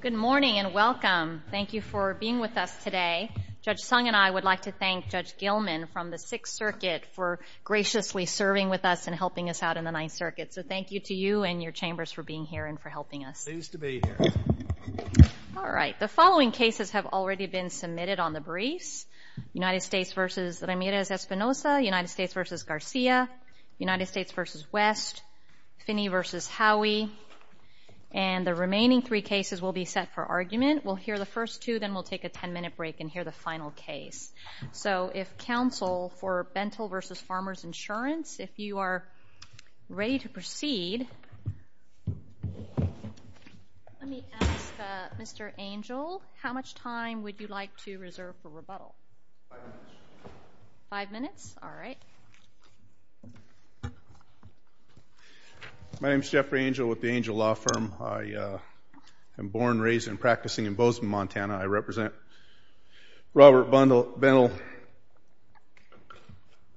Good morning and welcome. Thank you for being with us today. Judge Sung and I would like to thank Judge Gilman from the Sixth Circuit for graciously serving with us and helping us out in the Ninth Circuit. So thank you to you and your chambers for being here and for helping us. Pleased to be here. All right, the following cases have already been submitted on the briefs. United States v. Ramirez Espinosa, United States v. Garcia, United States v. West, Finney v. Howey, and the remaining three cases will be set for argument. We'll hear the first two, then we'll take a 10-minute break and hear the final case. So if counsel for Bentle v. Farmers Insurance, if you are ready to proceed, let me ask Mr. Angel, how much time would you like to reserve for rebuttal? Five minutes? All right. My name is Jeffrey Angel with the Angel Law Firm. I am born, raised, and practicing in Bozeman, Montana. I represent Robert Bentle.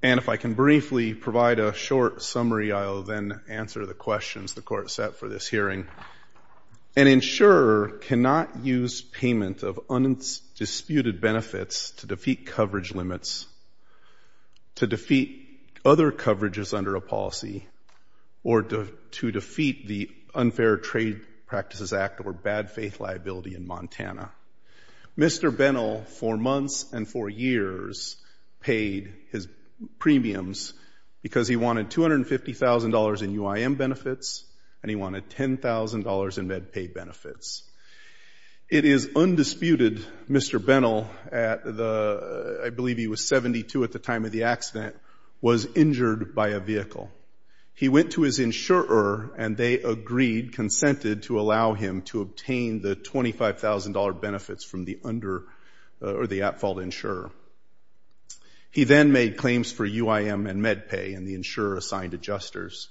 And if I can briefly provide a short summary, I'll then answer the questions the Court set for this hearing. An insurer cannot use payment of undisputed benefits to defeat coverage limits, to defeat other coverages under a policy, or to defeat the Unfair Trade Practices Act or bad faith liability in Montana. Mr. Bentle, for months and for years, paid his premiums because he wanted $250,000 in UIM benefits and he wanted $10,000 in MedPay benefits. It is undisputed, Mr. Bentle, I believe he was 72 at the time of the accident, was injured by a vehicle. He went to his insurer and they agreed, consented to allow him to obtain the $25,000 benefits from the under or the at-fault insurer. He then made claims for UIM and MedPay and the insurer assigned adjusters.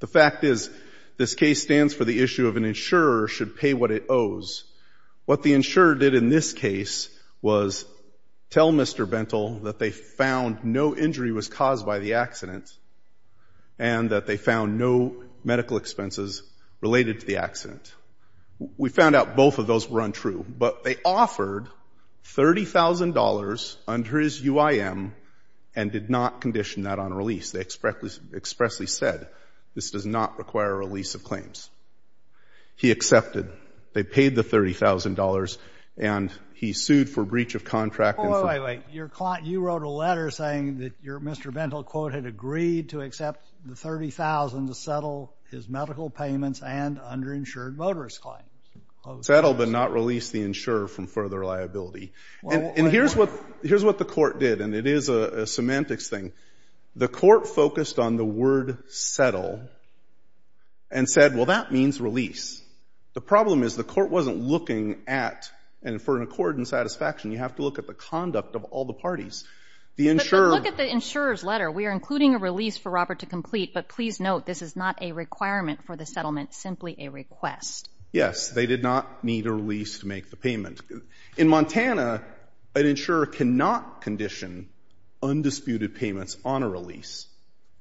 The fact is, this case stands for the issue of an insurer should pay what it owes. What the insurer did in this case was tell Mr. Bentle that they found no injury was caused by the accident and that they found no medical expenses related to the accident. We found out both of those were untrue, but they offered $30,000 under his UIM and did not condition that on release. They expressly said, this does not require a lease of claims. He accepted. They paid the $30,000 and he sued for breach of contract and for- Wait, wait, wait. You wrote a letter saying that your Mr. Bentle quote had agreed to accept the $30,000 to settle his medical payments and underinsured motorist claims. Settle but not release the insurer from further liability. And here's what the semantics thing. The court focused on the word settle and said, well, that means release. The problem is the court wasn't looking at, and for an accord and satisfaction, you have to look at the conduct of all the parties. The insurer- But then look at the insurer's letter. We are including a release for Robert to complete, but please note this is not a requirement for the settlement, simply a request. Yes. They did not need a release to make the payment. In Montana, an insurer cannot condition undisputed payments on a release.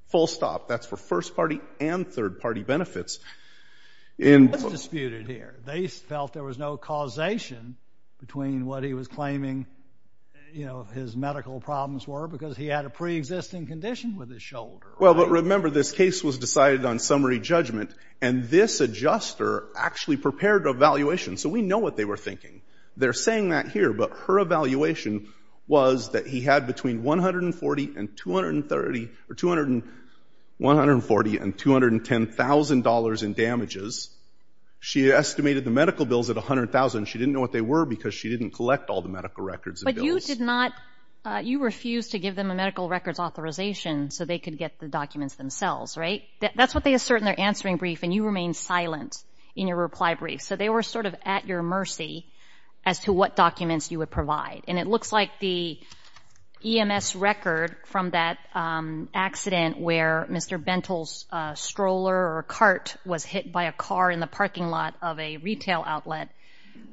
Full stop. That's for first party and third party benefits. That's disputed here. They felt there was no causation between what he was claiming, you know, his medical problems were because he had a preexisting condition with his shoulder. Well, but remember this case was decided on summary judgment and this adjuster actually prepared an evaluation. So we know what they were thinking. They're was that he had between $140,000 and $210,000 in damages. She estimated the medical bills at $100,000. She didn't know what they were because she didn't collect all the medical records and bills. But you did not, you refused to give them a medical records authorization so they could get the documents themselves, right? That's what they assert in their answering brief, and you remained silent in your reply brief. So they were sort of at your mercy as to what documents you would provide. And it looks like the EMS record from that accident where Mr. Bentle's stroller or cart was hit by a car in the parking lot of a retail outlet,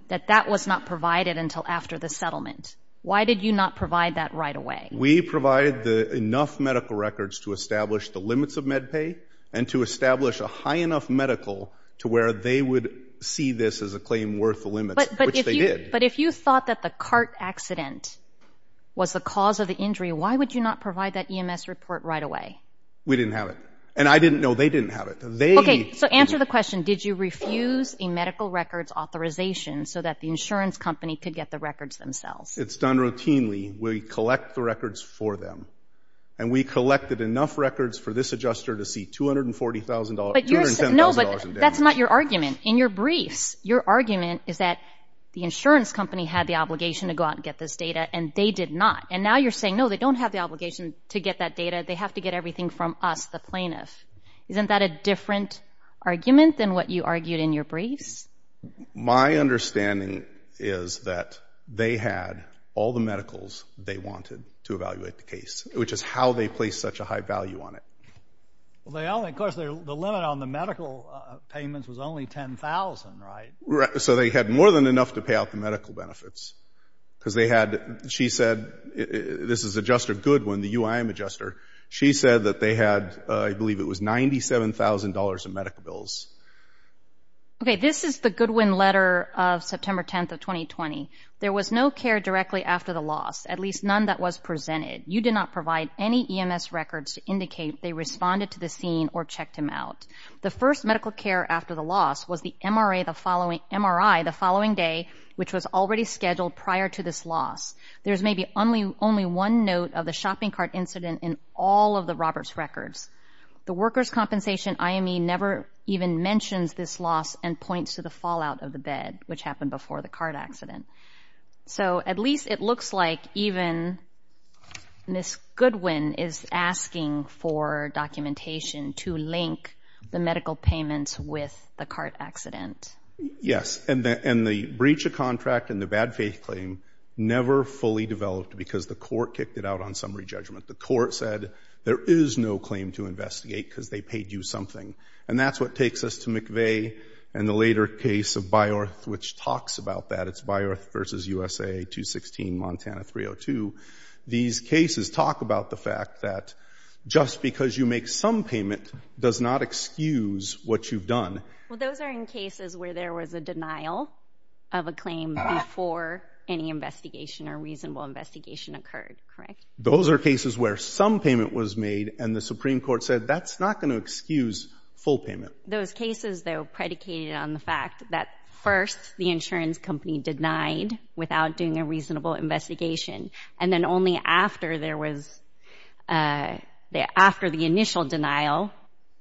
that that was not provided until after the settlement. Why did you not provide that right away? We provided the enough medical records to establish the limits of med pay and to establish a high enough medical to where they would see this as a claim worth the limits, which they did. But if you thought that the cart accident was the cause of the injury, why would you not provide that EMS report right away? We didn't have it. And I didn't know they didn't have it. Okay, so answer the question. Did you refuse a medical records authorization so that the insurance company could get the records themselves? It's done routinely. We collect the records for them. And we collected enough records for this adjuster to see $240,000, $210,000 in damages. No, but that's not your argument. In your briefs, your argument is that the insurance company had the obligation to go out and get this data, and they did not. And now you're saying, no, they don't have the obligation to get that data. They have to get everything from us, the plaintiff. Isn't that a different argument than what you argued in your briefs? My understanding is that they had all the medicals they wanted to evaluate the case, which is how they placed such a high value on it. Well, of course, the limit on the medical payments was only $10,000, right? So they had more than enough to pay out the medical benefits because they had, she said, this is Adjuster Goodwin, the UIM adjuster. She said that they had, I believe it was $97,000 in medical bills. Okay, this is the Goodwin letter of September 10th of 2020. There was no care directly after the loss, at least none that was presented. You did not provide any EMS records to indicate they responded to the scene or MRI the following day, which was already scheduled prior to this loss. There's maybe only one note of the shopping cart incident in all of the Roberts' records. The workers' compensation IME never even mentions this loss and points to the fallout of the bed, which happened before the cart accident. So at least it looks like even Ms. Goodwin is asking for documentation to link the medical payments with the cart accident. Yes. And the breach of contract and the bad faith claim never fully developed because the court kicked it out on summary judgment. The court said, there is no claim to investigate because they paid you something. And that's what takes us to McVeigh and the later case of Byorth, which talks about that. It's Byorth v. USA 216, Montana 302. These cases talk about the fact that just because you make some payment does not excuse what you've done. Well, those are in cases where there was a denial of a claim before any investigation or reasonable investigation occurred. Correct. Those are cases where some payment was made and the Supreme Court said that's not going to excuse full payment. Those cases, though, predicated on the fact that first the insurance company denied without doing a reasonable investigation. And then only after there was, after the initial denial,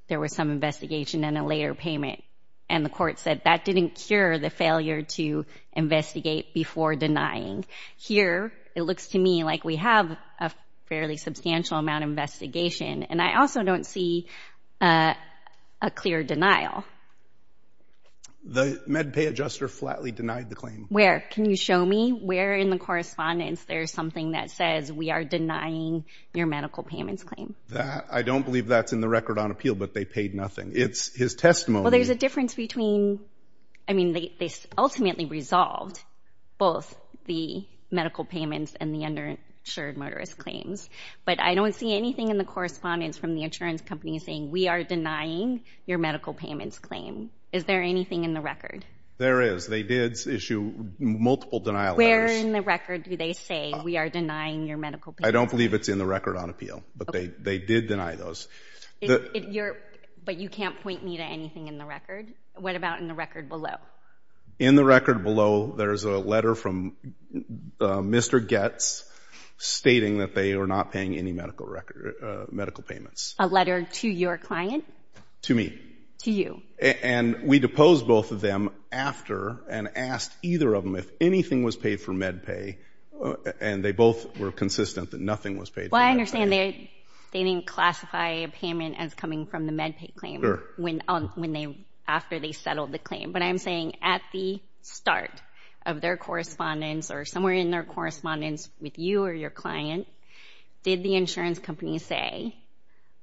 there was some investigation and a later payment. And the court said that didn't cure the failure to investigate before denying. Here, it looks to me like we have a fairly substantial amount of investigation. And I also don't see a clear denial. The MedPay adjuster flatly denied the claim. Where? Can you show me where in the correspondence there's something that says we are denying your medical payments claim? That, I don't believe that's in the record on appeal, but they paid nothing. It's his testimony. Well, there's a difference between, I mean, they ultimately resolved both the medical payments and the underinsured motorist claims. But I don't see anything in the correspondence from the insurance company saying we are denying your medical payments claim. Is there anything in the record? There is. They did issue multiple denial letters. Where in the record do they say we are denying your medical payments? I don't believe it's in the record on appeal, but they did deny those. But you can't point me to anything in the record. What about in the record below? In the record below, there's a letter from Mr. Goetz stating that they are not paying any medical record, medical payments. A letter to your client? To me. To you. And we deposed both of them after and asked either of them if anything was paid for MedPay. And they both were consistent that nothing was paid. Well, I understand they didn't classify a payment as coming from the MedPay claim after they settled the claim. But I'm saying at the start of their correspondence or somewhere in their correspondence with you or your client, did the insurance company say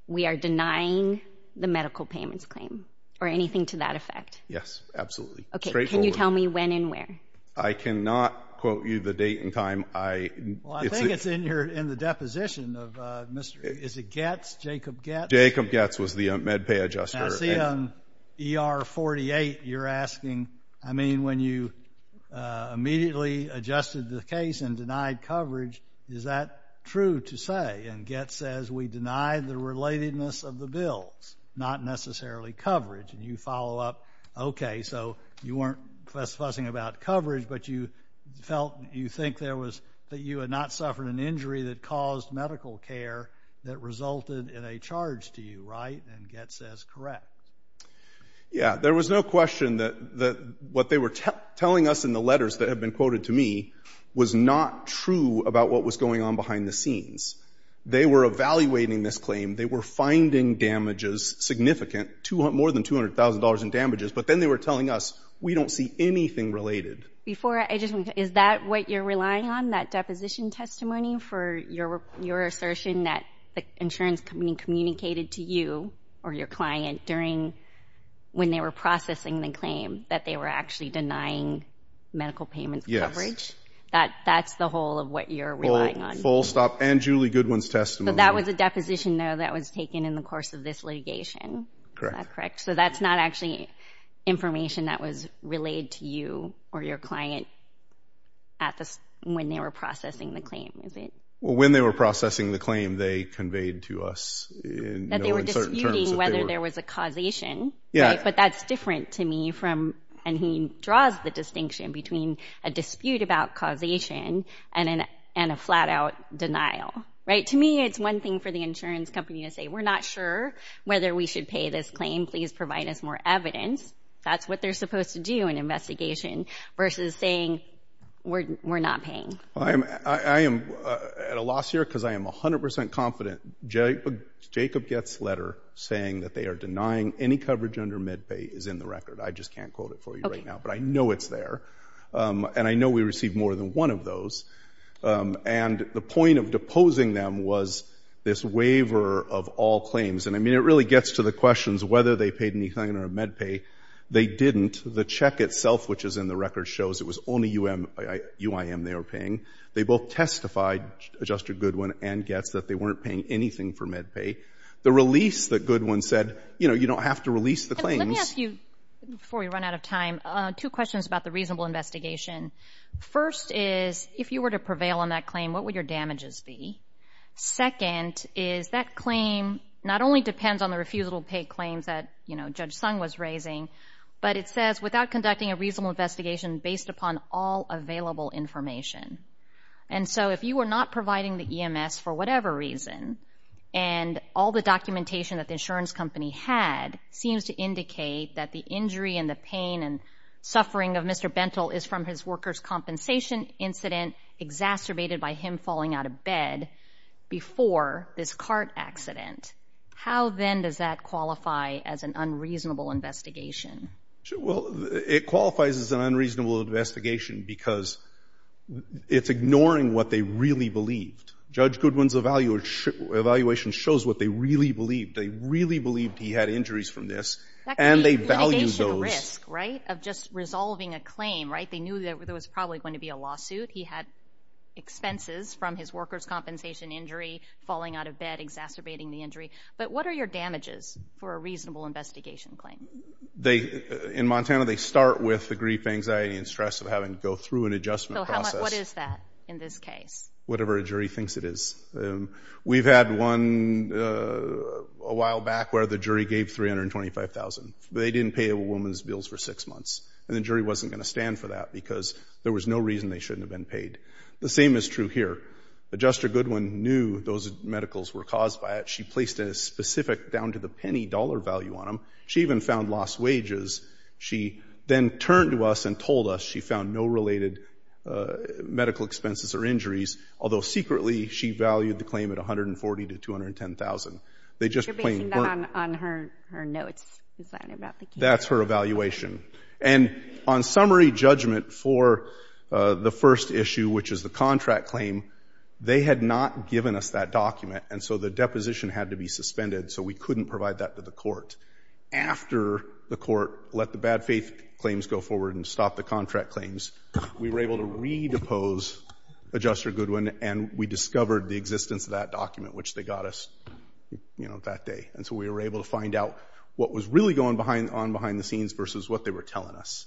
we are denying the medical payments claim or anything to that effect? Yes, absolutely. OK. Can you tell me when and where? I cannot quote you the date and time. Well, I think it's in the deposition of, is it Goetz? Jacob Goetz? Jacob Goetz was the MedPay adjuster. I see on ER 48, you're asking, I mean, when you immediately adjusted the case and denied coverage, is that true to say? And Goetz says, we denied the relatedness of the bills, not necessarily coverage. And you follow up, OK, so you weren't fussing about coverage, but you felt you think there was that you had not suffered an injury that caused medical care that resulted in a charge to you, right? And Goetz says, correct. Yeah, there was no question that what they were telling us in the letters that have been quoted to me was not true about what was going on behind the scenes. They were evaluating this claim. They were finding damages significant, more than $200,000 in damages. But then they were telling us we don't see anything related. Before, I just want to, is that what you're relying on, that deposition testimony for your assertion that the insurance company communicated to you or your client during, when they were processing the claim, that they were actually denying medical payments coverage? That's the whole of what you're relying on. Full stop and Julie Goodwin's testimony. But that was a deposition, though, that was taken in the course of this litigation, is that correct? So that's not actually information that was relayed to you or your client at this, when they were processing the claim, is it? Well, when they were processing the claim, they conveyed to us in, you know, in certain terms that they were- That they were disputing whether there was a causation, right? But that's different to me from, and he draws the distinction between a dispute about causation and a flat out denial, right? To me, it's one thing for the insurance company to say, we're not sure whether we should pay this claim, please provide us more evidence. That's what they're supposed to do in investigation versus saying, we're not paying. I am at a loss here because I am 100% confident Jacob Getz's letter saying that they are denying any coverage under MedPay is in the record. I just can't quote it for you right now, but I know it's there. And I know we received more than one of those. And the point of deposing them was this waiver of all claims. And I mean, it really gets to the questions whether they paid anything under MedPay. They didn't. The check itself, which is in the record, shows it was only UIM they were paying. They both testified, Adjuster Goodwin and Getz, that they weren't paying anything for MedPay. The release that Goodwin said, you know, you don't have to release the claims. Let me ask you, before we run out of time, two questions about the reasonable investigation. First is, if you were to prevail on that claim, what would your damages be? Second is, that claim not only depends on the refusable pay claims that, you know, Judge Sung was raising, but it says, without conducting a reasonable investigation based upon all available information. And so, if you were not providing the EMS for whatever reason, and all the documentation that the insurance company had seems to indicate that the injury and the pain and suffering of Mr. Bentle is from his workers' compensation incident exacerbated by him falling out of bed before this cart accident, how then does that qualify as an unreasonable investigation? Well, it qualifies as an unreasonable investigation because it's ignoring what they really believed. Judge Goodwin's evaluation shows what they really believed. They really believed he had injuries from this, and they valued those. That could be litigation risk, right, of just resolving a claim, right? They knew that there was probably going to be a lawsuit. He had expenses from his workers' compensation injury, falling out of bed, exacerbating the injury. But what are your damages for a reasonable investigation claim? They, in Montana, they start with the grief, anxiety, and stress of having to go through an adjustment process. So how much, what is that in this case? Whatever a jury thinks it is. We've had one a while back where the jury gave $325,000. They didn't pay a woman's bills for six months. And the jury wasn't going to stand for that because there was no reason they shouldn't have been paid. The same is true here. Adjuster Goodwin knew those medicals were caused by it. She placed a specific down-to-the-penny dollar value on them. She even found lost wages. She then turned to us and told us she found no related medical expenses or injuries, although secretly, she valued the claim at $140,000 to $210,000. They just plain weren't- You're basing that on her notes, is that about the case? That's her evaluation. And on summary judgment for the first issue, which is the contract claim, they had not given us that document. And so the deposition had to be suspended. So we couldn't provide that to the court. After the court let the bad faith claims go forward and stopped the contract claims, we were able to re-depose Adjuster Goodwin. And we discovered the existence of that document, which they got us that day. And so we were able to find out what was really going on behind the scenes versus what they were telling us.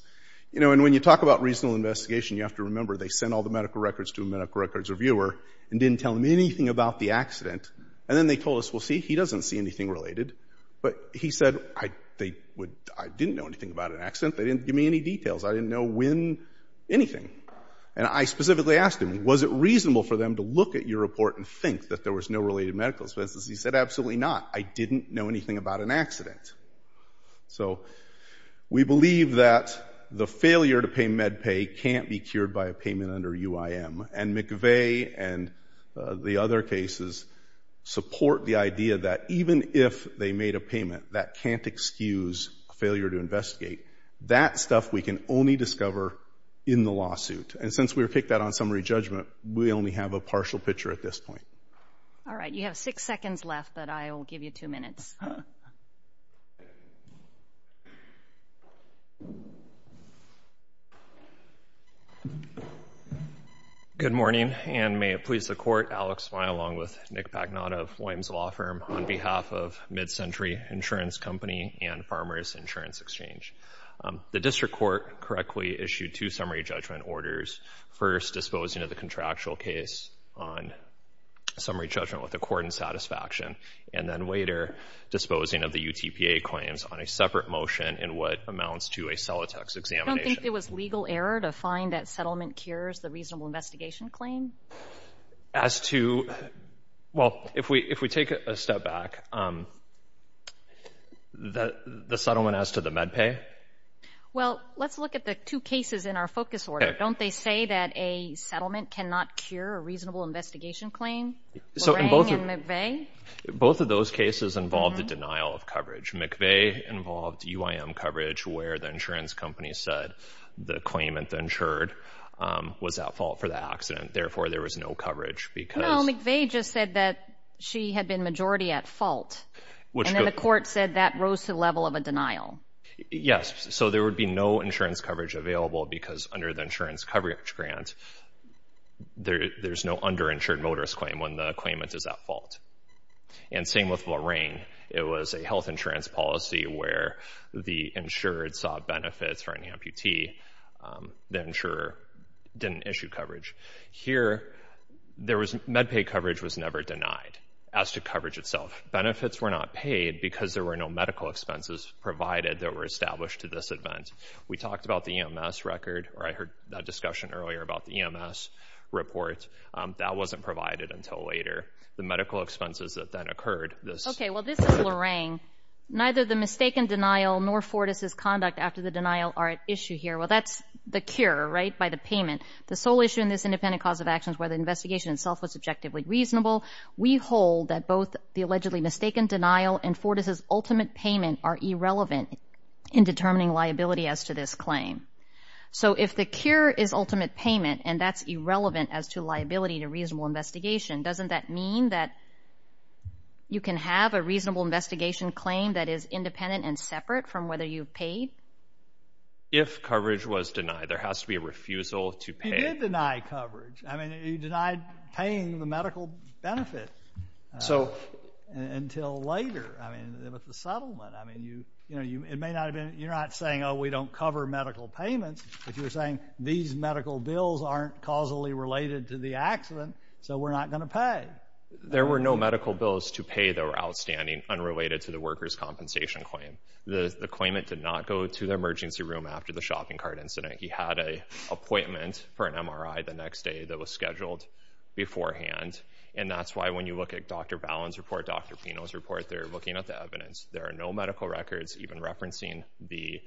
And when you talk about reasonable investigation, you have to remember, they sent all the medical records to a medical records reviewer and didn't tell them anything about the accident. And then they told us, well, see, he doesn't see anything related. But he said, I didn't know anything about an accident. They didn't give me any details. I didn't know when anything. And I specifically asked him, was it reasonable for them to look at your report and think that there was no related medical expenses? He said, absolutely not. I didn't know anything about an accident. So we believe that the failure to pay MedPay can't be cured by a payment under UIM. And McVeigh and the other cases support the idea that even if they made a payment, that can't excuse failure to investigate. That stuff we can only discover in the lawsuit. And since we were picked out on summary judgment, we only have a partial picture at this point. All right, you have six seconds left, but I will give you two minutes. Good morning. And may it please the court, Alex Smy, along with Nick Pagnotto of Williams Law Firm, on behalf of MidCentury Insurance Company and Farmers Insurance Exchange. The district court correctly issued two summary judgment orders, first disposing of the contractual case on summary judgment with the court in satisfaction, and then later disposing of the UTPA claims on a separate motion in what amounts to a Celotex examination. You don't think it was legal error to find that settlement cures the reasonable investigation claim? As to, well, if we take a step back, the settlement as to the MedPay? Well, let's look at the two cases in our focus order. Don't they say that a settlement cannot cure a reasonable investigation claim? Lorraine and McVeigh? Both of those cases involved the denial of coverage. McVeigh involved UIM coverage where the insurance company said the claimant insured was at fault for the accident. Therefore, there was no coverage because... No, McVeigh just said that she had been majority at fault, and then the court said that rose to the level of a denial. Yes. So there would be no insurance coverage available because under the insurance coverage grant, there's no underinsured motorist claim when the claimant is at fault. And same with Lorraine. It was a health insurance policy where the insured saw benefits for an amputee. The insurer didn't issue coverage. Here, MedPay coverage was never denied. As to coverage itself, benefits were not paid because there were no medical expenses provided that were established to this event. We talked about the EMS record, or I heard that discussion earlier about the EMS report. That wasn't provided until later. The medical expenses that then occurred, this... Okay, well, this is Lorraine. Neither the mistaken denial nor Fortas' conduct after the denial are at issue here. Well, that's the cure, right, by the payment. The sole issue in this independent cause of action is whether the investigation itself was objectively reasonable. We hold that both the allegedly mistaken denial and Fortas' ultimate payment are irrelevant in determining liability as to this claim. So if the cure is ultimate payment and that's irrelevant as to liability to reasonable investigation, doesn't that mean that you can have a reasonable investigation claim that is independent and separate from whether you've paid? If coverage was denied, there has to be a refusal to pay. He did deny coverage. I mean, he denied paying the medical benefit until later. I mean, with the settlement, I mean, you know, it may not have been... You're not saying, oh, we don't cover medical payments, but you're saying these medical bills aren't causally related to the accident, so we're not going to pay. There were no medical bills to pay that were outstanding unrelated to the workers compensation claim. The claimant did not go to the emergency room after the shopping cart incident. He had an appointment for an MRI the next day that was scheduled beforehand, and that's why when you look at Dr. Ballin's report, Dr. Pino's report, they're looking at the evidence. There are no medical records even referencing the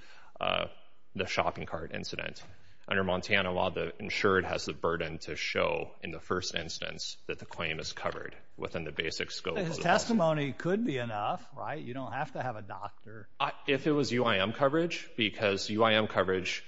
shopping cart incident. Under Montana law, the insured has the burden to show in the first instance that the claim is covered within the basic scope of the... His testimony could be enough, right? You don't have to have a doctor. If it was UIM coverage, because UIM coverage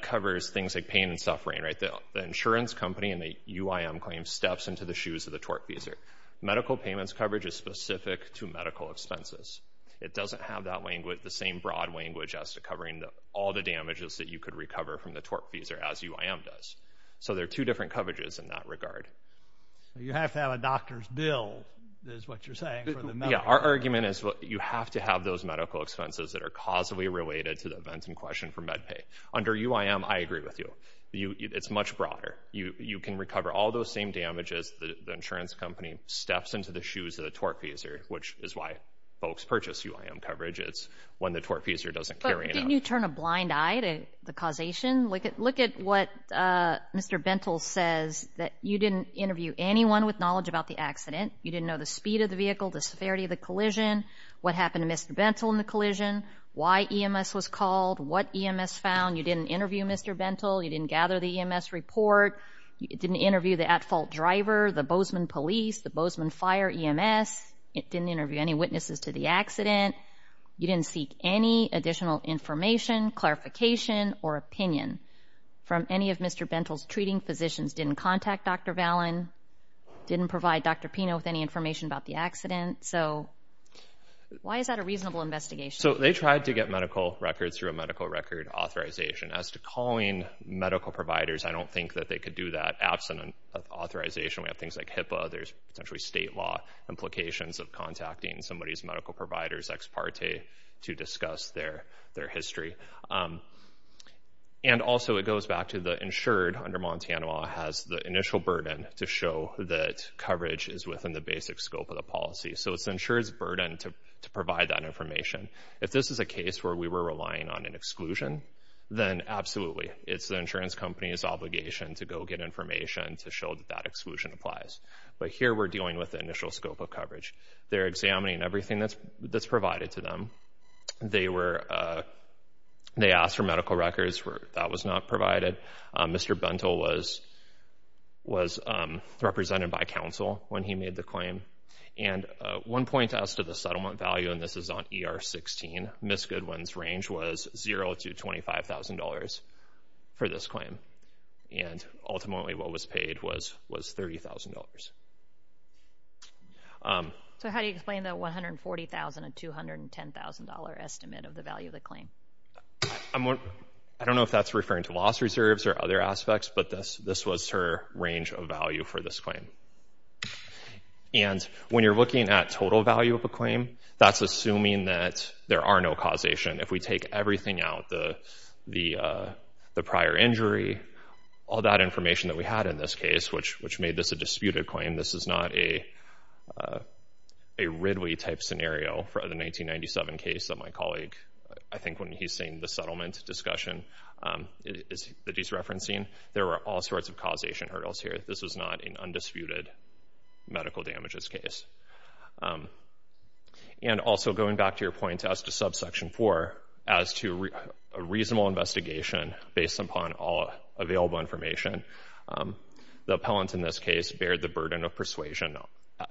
covers things like pain and suffering, right? The insurance company in the UIM claim steps into the shoes of the TORP feeser. Medical payments coverage is specific to medical expenses. It doesn't have the same broad language as to covering all the damages that you could recover from the TORP feeser as UIM does. So there are two different coverages in that regard. You have to have a doctor's bill is what you're saying for the medical... Yeah, our argument is you have to have those medical expenses that are causally related to the events in question for med pay. Under UIM, I agree with you. It's much broader. You can recover all those same damages. The insurance company steps into the shoes of the TORP feeser, which is why folks purchase UIM coverage. It's when the TORP feeser doesn't carry it out. But didn't you turn a blind eye to the causation? Look at what Mr. Bentle says that you didn't interview anyone with knowledge about the accident. You didn't know the speed of the vehicle, the severity of the collision, what happened to Mr. Bentle in the collision, why EMS was called, what EMS found. You didn't interview Mr. Bentle. You didn't gather the EMS report. You didn't interview the at-fault driver, the Bozeman police, the Bozeman fire EMS. It didn't interview any witnesses to the accident. You didn't seek any additional information, clarification, or opinion from any of Mr. Valen, didn't provide Dr. Pino with any information about the accident. So why is that a reasonable investigation? So they tried to get medical records through a medical record authorization. As to calling medical providers, I don't think that they could do that absent an authorization. We have things like HIPAA. There's essentially state law implications of contacting somebody's medical providers, ex parte, to discuss their history. And also it goes back to the insured under Montana law has the initial burden to show that coverage is within the basic scope of the policy. So it's insured's burden to provide that information. If this is a case where we were relying on an exclusion, then absolutely. It's the insurance company's obligation to go get information to show that that exclusion applies. But here we're dealing with the initial scope of coverage. They're examining everything that's provided to them. They asked for medical records. That was not provided. Mr. Bentle was represented by counsel when he made the claim. And one point as to the settlement value, and this is on ER 16, Ms. Goodwin's range was $0 to $25,000 for this claim. And ultimately what was paid was $30,000. So how do you explain the $140,000 to $210,000 estimate of the value of the claim? I don't know if that's referring to loss reserves or other aspects, but this was her range of value for this claim. And when you're looking at total value of a claim, that's assuming that there are no causation. If we take everything out, the prior injury, all that information that we had in this case, which made this a disputed claim, this is not a Ridley-type scenario for the 1997 case that my colleague, I think when he's saying the settlement discussion that he's referencing. There were all sorts of causation hurdles here. This is not an undisputed medical damages case. And also going back to your point as to subsection 4, as to a reasonable investigation based upon all available information, the appellant in this case bared the burden of persuasion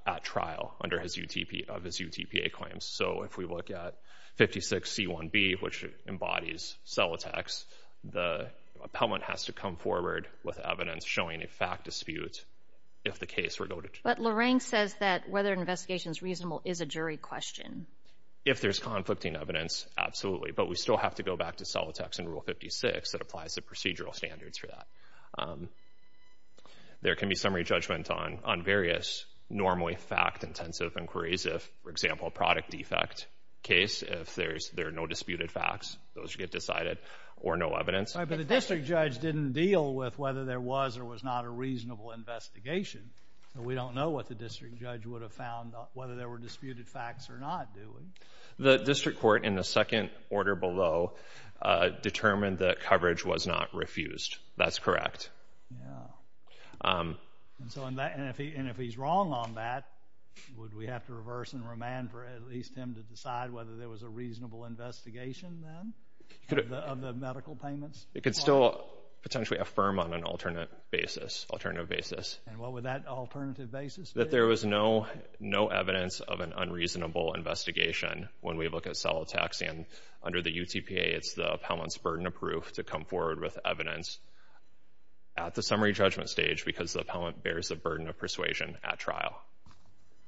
at trial under his UTPA claims. So if we look at 56C1B, which embodies Celotex, the appellant has to come forward with evidence showing a fact dispute if the case were go to trial. But Lorraine says that whether an investigation is reasonable is a jury question. If there's conflicting evidence, absolutely. But we still have to go back to Celotex in Rule 56 that applies the procedural standards for that. There can be summary judgment on various normally fact-intensive inquiries. If, for example, a product defect case, if there are no disputed facts, those should get decided, or no evidence. All right, but the district judge didn't deal with whether there was or was not a reasonable investigation. So we don't know what the district judge would have found, whether there were disputed facts or not, do we? The district court in the second order below determined that coverage was not refused. That's correct. Yeah. And if he's wrong on that, would we have to reverse and remand for at least him to decide whether there was a reasonable investigation then of the medical payments? It could still potentially affirm on an alternate basis, alternative basis. And what would that alternative basis be? That there was no evidence of an unreasonable investigation when we look at Celotex. And under the UTPA, it's the appellant's burden of proof to come forward with evidence at the summary judgment stage, because the appellant bears the burden of persuasion at trial.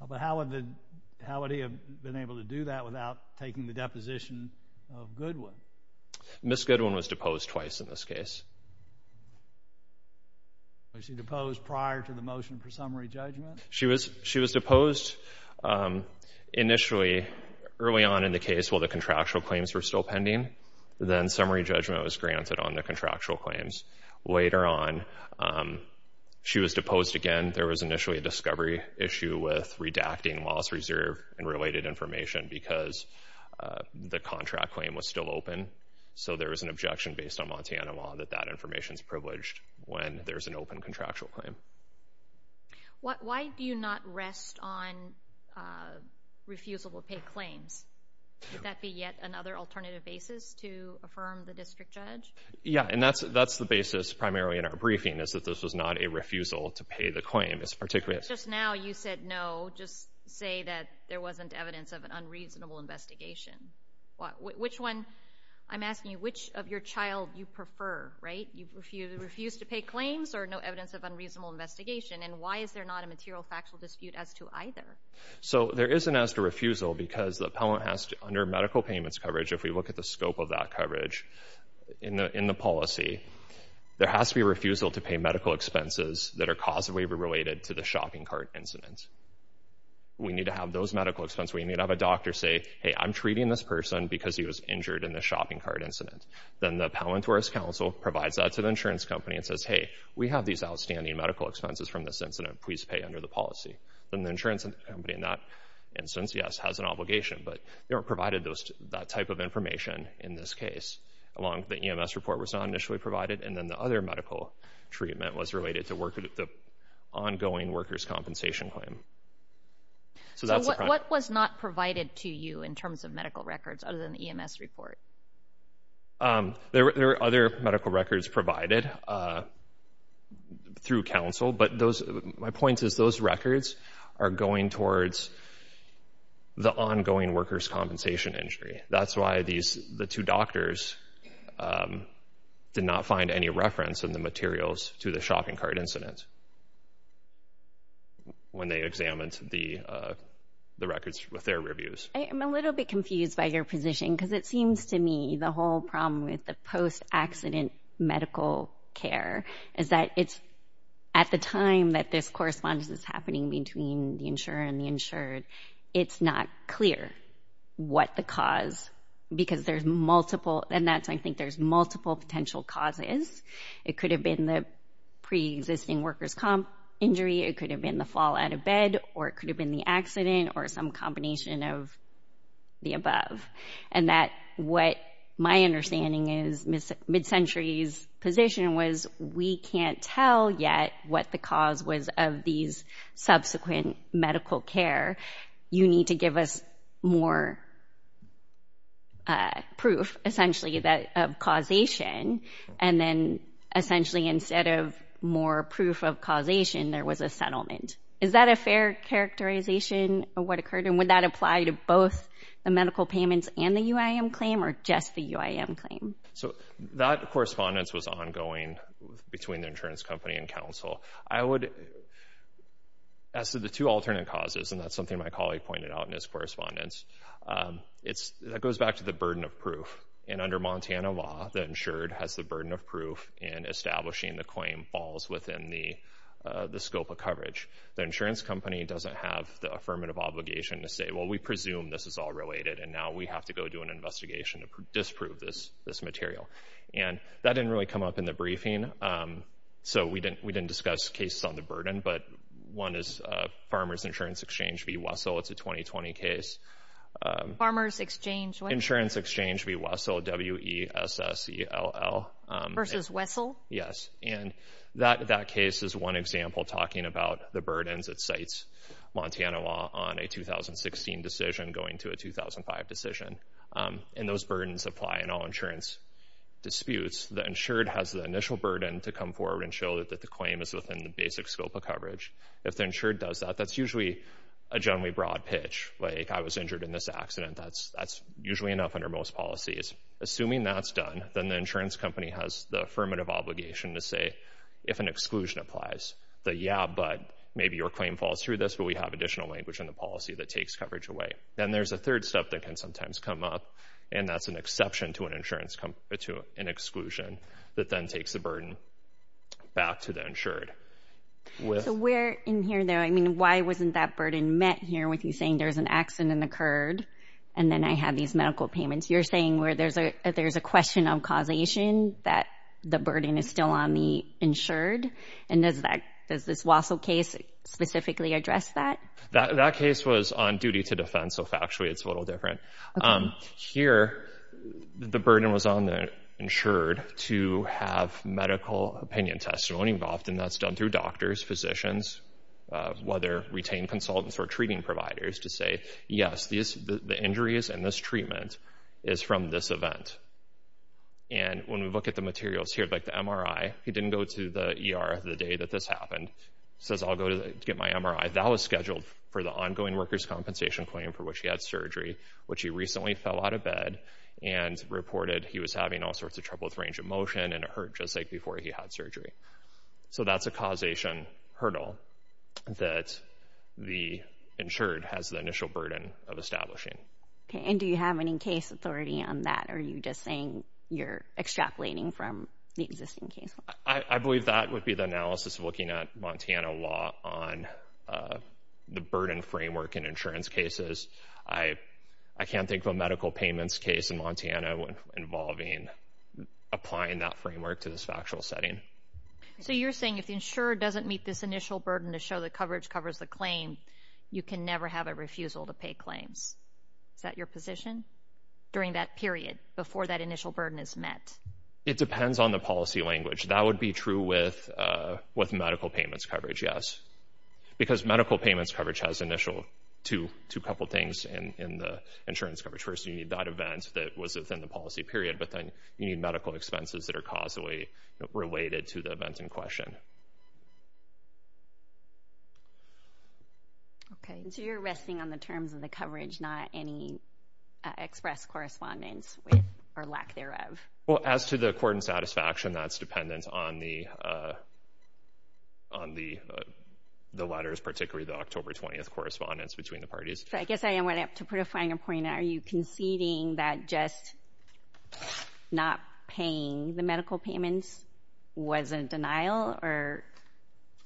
But how would he have been able to do that without taking the deposition of Goodwin? Ms. Goodwin was deposed twice in this case. Was she deposed prior to the motion for summary judgment? She was deposed initially early on in the case while the contractual claims were still pending. Then summary judgment was granted on the contractual claims. Later on, she was deposed again. There was initially a discovery issue with redacting loss reserve and related information because the contract claim was still open. So there was an objection based on Montana law that that information is privileged when there's an open contractual claim. Why do you not rest on refusable pay claims? Would that be yet another alternative basis to affirm the district judge? Yeah, and that's the basis primarily in our briefing, is that this was not a refusal to pay the claim. Just now you said, no, just say that there wasn't evidence of an unreasonable investigation. Which one? I'm asking you, which of your child you prefer, right? You refuse to pay claims or no evidence of unreasonable investigation? And why is there not a material factual dispute as to either? So there isn't as to refusal because the appellant has to, under medical payments coverage, if we look at the scope of that coverage in the policy, there has to be a refusal to pay medical expenses that are causally related to the shopping cart incident. We need to have those medical expenses. We need to have a doctor say, hey, I'm treating this person because he was injured in the shopping cart incident. Then the appellant or his counsel provides that to the insurance company and says, hey, we have these outstanding medical expenses from this incident. Please pay under the policy. Then the insurance company in that instance, yes, has an obligation, but they weren't provided that type of information in this case, along the EMS report was not initially provided. And then the other medical treatment was related to the ongoing workers' compensation claim. So what was not provided to you in terms of medical records other than the EMS report? There were other medical records provided through counsel, but my point is those records are going towards the ongoing workers' compensation injury. That's why the two doctors did not find any reference in the materials to the shopping cart incident when they examined the records with their reviews. I'm a little bit confused by your position because it seems to me the whole problem with the post-accident medical care is that it's at the time that this correspondence is happening between the insurer and the insured, it's not clear what the cause because there's multiple and that's I think there's multiple potential causes. It could have been the pre-existing workers' injury. It could have been the fall out of bed or it could have been the accident or some combination of the above. And that what my understanding is, Ms. Midcentury's position was we can't tell yet what the cause was of these subsequent medical care. You need to give us more proof essentially of causation. And then essentially instead of more proof of causation, there was a settlement. Is that a fair characterization of what occurred? And would that apply to both the medical payments and the UIM claim or just the UIM claim? So that correspondence was ongoing between the insurance company and counsel. I would, as to the two alternate causes, and that's something my colleague pointed out in his correspondence, it goes back to the burden of proof. And under Montana law, the insured has the burden of proof in establishing the claim falls within the scope of coverage. The insurance company doesn't have the affirmative obligation to say, well, we presume this is all related and now we have to go do an investigation to disprove this material. And that didn't really come up in the briefing. So we didn't we didn't discuss cases on the burden. But one is Farmers Insurance Exchange v. Wessel. It's a 2020 case. Farmers Exchange? Insurance Exchange v. Wessel, W-E-S-S-E-L-L. Versus Wessel? Yes. And that case is one example talking about the burdens that cites Montana law on a 2016 decision going to a 2005 decision. And those burdens apply in all insurance disputes. The insured has the initial burden to come forward and show that the claim is within the basic scope of coverage. If the insured does that, that's usually a generally broad pitch. Like, I was injured in this accident. That's usually enough under most policies. Assuming that's done, then the insurance company has the affirmative obligation to say, if an exclusion applies, that, yeah, but maybe your claim falls through this, but we have additional language in the policy that takes coverage away. Then there's a third step that can sometimes come up, and that's an exception to an insurance, to an exclusion that then takes the burden back to the insured. So where in here, though, I mean, why wasn't that burden met here with you saying there's an accident occurred and then I have these medical payments? You're saying where there's a there's a question of causation that the burden is still on the insured. And does that, does this Wassell case specifically address that? That case was on duty to defense, so factually it's a little different. Here, the burden was on the insured to have medical opinion testimony involved, and that's done through doctors, physicians, whether retained consultants or treating providers, to say, yes, the injury is in this treatment. It's from this event. And when we look at the materials here, like the MRI, he didn't go to the ER the day that this happened, says, I'll go to get my MRI. That was scheduled for the ongoing workers' compensation claim for which he had surgery, which he recently fell out of bed and reported he was having all sorts of trouble with range of motion and it hurt just like before he had surgery. So that's a causation hurdle that the insured has the initial burden of establishing. And do you have any case authority on that? Are you just saying you're extrapolating from the existing case? I believe that would be the analysis of looking at Montana law on the burden framework in insurance cases. I, I can't think of a medical payments case in Montana involving applying that framework to this factual setting. So you're saying if the insurer doesn't meet this initial burden to show the coverage covers the claim, you can never have a refusal to pay claims. Is that your position during that period before that initial burden is met? It depends on the policy language. That would be true with, with medical payments coverage. Yes, because medical payments coverage has initial two, two couple things in the insurance coverage. First, you need that event that was within the policy period, but then you need medical expenses that are causally related to the event in question. Okay, so you're resting on the terms of the coverage, not any express correspondence with or lack thereof. Well, as to the court and satisfaction, that's dependent on the, on the, the letters, particularly the October 20th correspondence between the parties. So I guess I went up to put a finer point. Are you conceding that just not paying the medical payments was a denial or,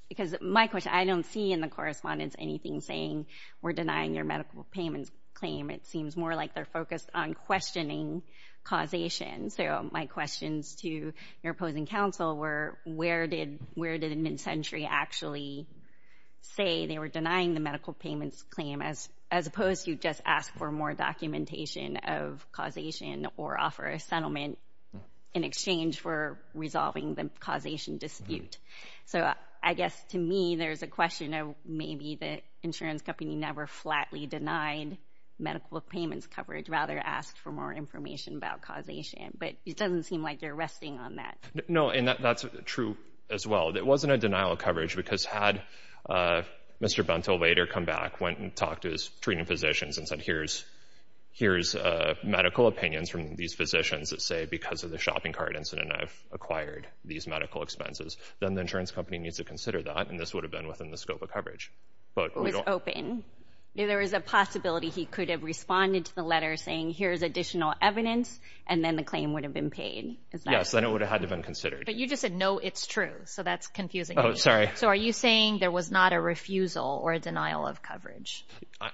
because my question, I don't see in the correspondence anything saying we're denying your medical payments claim. It seems more like they're focused on questioning causation. So my questions to your opposing counsel were, where did, where did mid-century actually say they were denying the medical payments claim as, as opposed to just ask for more documentation of causation or offer a settlement in exchange for resolving the causation dispute? So I guess to me, there's a question of maybe the insurance company never flatly denied medical payments coverage, rather asked for more information about causation, but it doesn't seem like you're resting on that. No, and that's true as well. It wasn't a denial of coverage because had Mr. Buntle later come back, went and talked to his treating physicians and said, here's, here's medical opinions from these physicians that say, because of the shopping cart incident, I've acquired these medical expenses, then the insurance company needs to consider that. And this would have been within the scope of coverage. But it was open. There was a possibility he could have responded to the letter saying, here's additional evidence, and then the claim would have been paid. Yes, then it would have had to been considered. But you just said, no, it's true. So that's confusing. Oh, sorry. So are you saying there was not a refusal or a denial of coverage?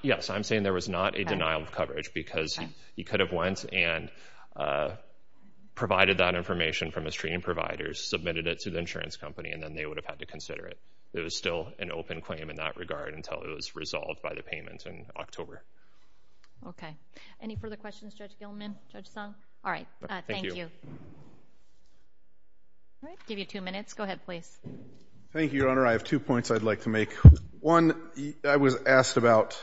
Yes, I'm saying there was not a denial of coverage because he could have went and provided that information from his treating providers, submitted it to the insurance company, and then they would have had to consider it. It was still an open claim in that regard until it was resolved by the payment in October. OK, any further questions, Judge Gilman, Judge Song? All right. Thank you. Give you two minutes. Go ahead, please. Thank you, Your Honor. I have two points I'd like to make. One, I was asked about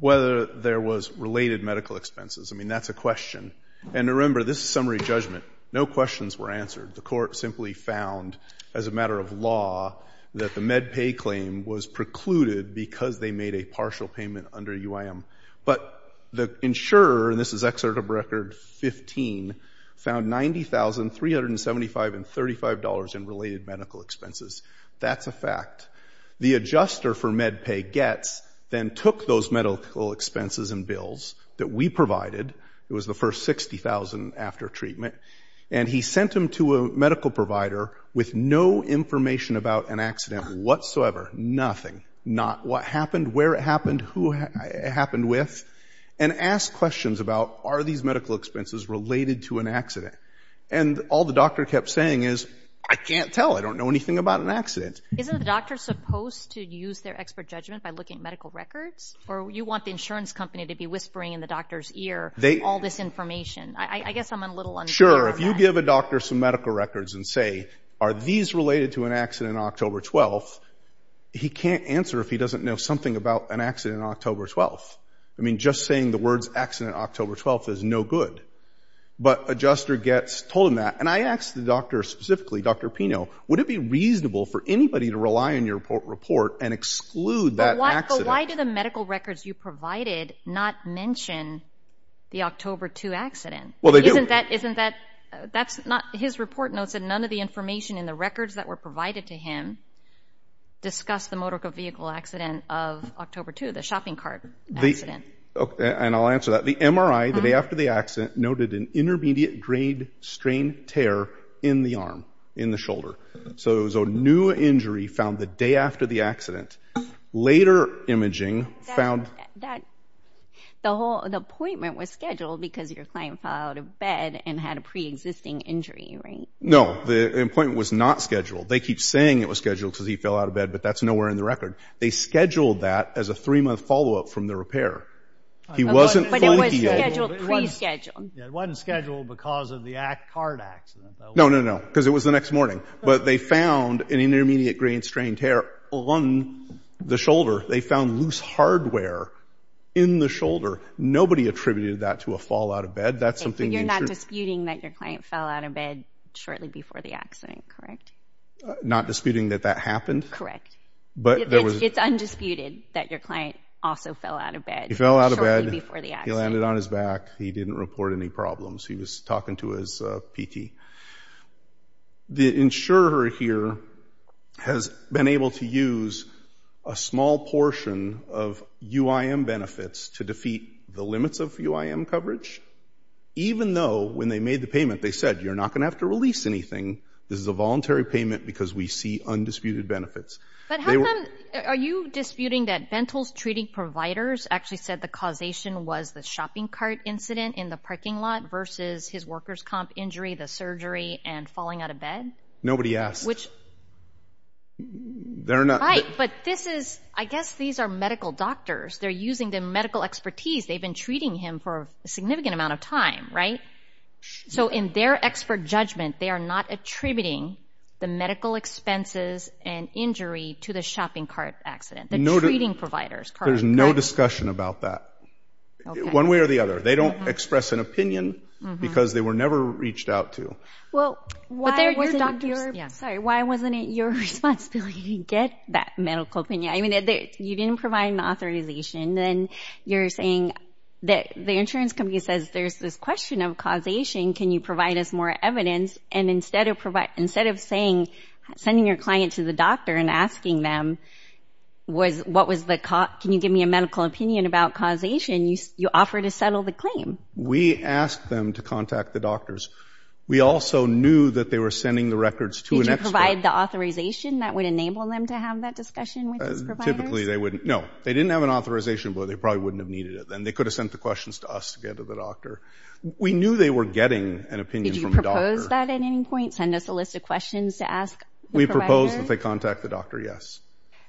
whether there was related medical expenses. I mean, that's a question. And remember, this is summary judgment. No questions were answered. The court simply found, as a matter of law, that the MedPay claim was precluded because they made a partial payment under UIM. But the insurer, and this is Excerpt of Record 15, found $90,375.35 in related medical expenses. That's a fact. The adjuster for MedPay, Getz, then took those medical expenses and bills that we provided, it was the first $60,000 after treatment, and he sent them to a medical provider with no information about an accident whatsoever. Nothing. Not what happened, where it happened. Who it happened with. And asked questions about, are these medical expenses related to an accident? And all the doctor kept saying is, I can't tell. I don't know anything about an accident. Isn't the doctor supposed to use their expert judgment by looking at medical records? Or you want the insurance company to be whispering in the doctor's ear all this information? I guess I'm a little un-sure. Sure. If you give a doctor some medical records and say, are these related to an accident on October 12th? He can't answer if he doesn't know something about an accident on October 12th. I mean, just saying the words accident October 12th is no good. But adjuster Getz told him that, and I asked the doctor specifically, Dr. Pino, would it be reasonable for anybody to rely on your report and exclude that accident? But why do the medical records you provided not mention the October 2 accident? Well, they do. Isn't that, isn't that, that's not, his report notes that none of the information in the records that were provided to him discuss the motor vehicle accident of October 2, the shopping cart accident. And I'll answer that. The MRI, the day after the accident, noted an intermediate grade strain tear in the arm, in the shoulder. So it was a new injury found the day after the accident. Later imaging found. That the whole, the appointment was scheduled because your client fell out of bed and had a preexisting injury. Right? No, the appointment was not scheduled. They keep saying it was scheduled because he fell out of bed, but that's nowhere in the record. They scheduled that as a three month followup from the repair. He wasn't scheduled because of the act card accident. No, no, no. Because it was the next morning. But they found an intermediate grain strain tear on the shoulder. They found loose hardware in the shoulder. Nobody attributed that to a fall out of bed. That's something. You're not disputing that your client fell out of bed shortly before the accident, correct? Not disputing that that happened? Correct. But there was. It's undisputed that your client also fell out of bed. He fell out of bed. Shortly before the accident. He landed on his back. He didn't report any problems. He was talking to his PT. The insurer here has been able to use a small portion of UIM benefits to defeat the limits of UIM coverage. Even though when they made the payment, they said, you're not going to have to release anything. This is a voluntary payment because we see undisputed benefits. But how come, are you disputing that Bentle's treating providers actually said the causation was the shopping cart incident in the parking lot versus his worker's comp injury? The surgery and falling out of bed? Nobody asked. Which. They're not. Right. But this is, I guess these are medical doctors. They're using the medical expertise. They've been treating him for a significant amount of time, right? So in their expert judgment, they are not attributing the medical expenses and injury to the shopping cart accident. The treating providers. There's no discussion about that. One way or the other. They don't express an opinion because they were never reached out to. Well, why wasn't it your responsibility to get that medical opinion? I mean, you didn't provide an authorization. Then you're saying that the insurance company says there's this question of causation. Can you provide us more evidence? And instead of saying, sending your client to the doctor and asking them, can you give me a medical opinion about causation? You offer to settle the claim. We asked them to contact the doctors. We also knew that they were sending the records to an expert. Did you provide the authorization that would enable them to have that discussion with these providers? Typically, they wouldn't. No, they didn't have an authorization, but they probably wouldn't have needed it then. They could have sent the questions to us to get to the doctor. We knew they were getting an opinion from the doctor. Did you propose that at any point? Send us a list of questions to ask the provider? We proposed that they contact the doctor. Yes.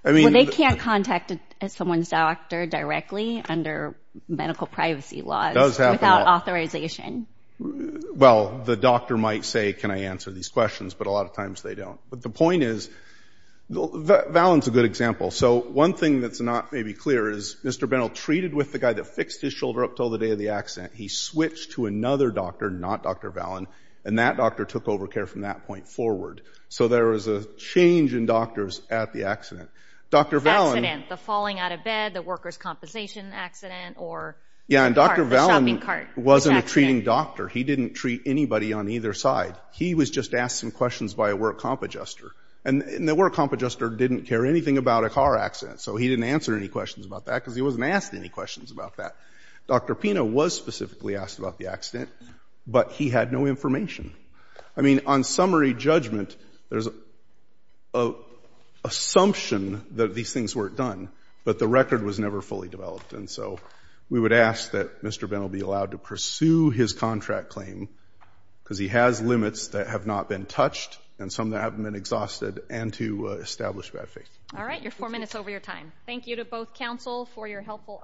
I mean, they can't contact someone's doctor directly under medical privacy laws without authorization. Well, the doctor might say, can I answer these questions? But a lot of times they don't. But the point is, Valen's a good example. So one thing that's not maybe clear is Mr. Bentle treated with the guy that fixed his shoulder up till the day of the accident. He switched to another doctor, not Dr. Valen, and that doctor took over care from that point forward. So there was a change in doctors at the accident. Accident, the falling out of bed, the worker's compensation accident, or the shopping cart. Yeah, and Dr. Valen wasn't a treating doctor. He didn't treat anybody on either side. He was just asked some questions by a work comp adjuster. And the work comp adjuster didn't care anything about a car accident. So he didn't answer any questions about that because he wasn't asked any questions about that. Dr. Pino was specifically asked about the accident, but he had no information. I mean, on summary judgment, there's an assumption that these things weren't done, but the record was never fully developed. And so we would ask that Mr. Bentle be allowed to pursue his contract claim because he has limits that have not been touched and some that haven't been exhausted and to establish bad faith. All right. You're four minutes over your time. Thank you to both counsel for your helpful arguments.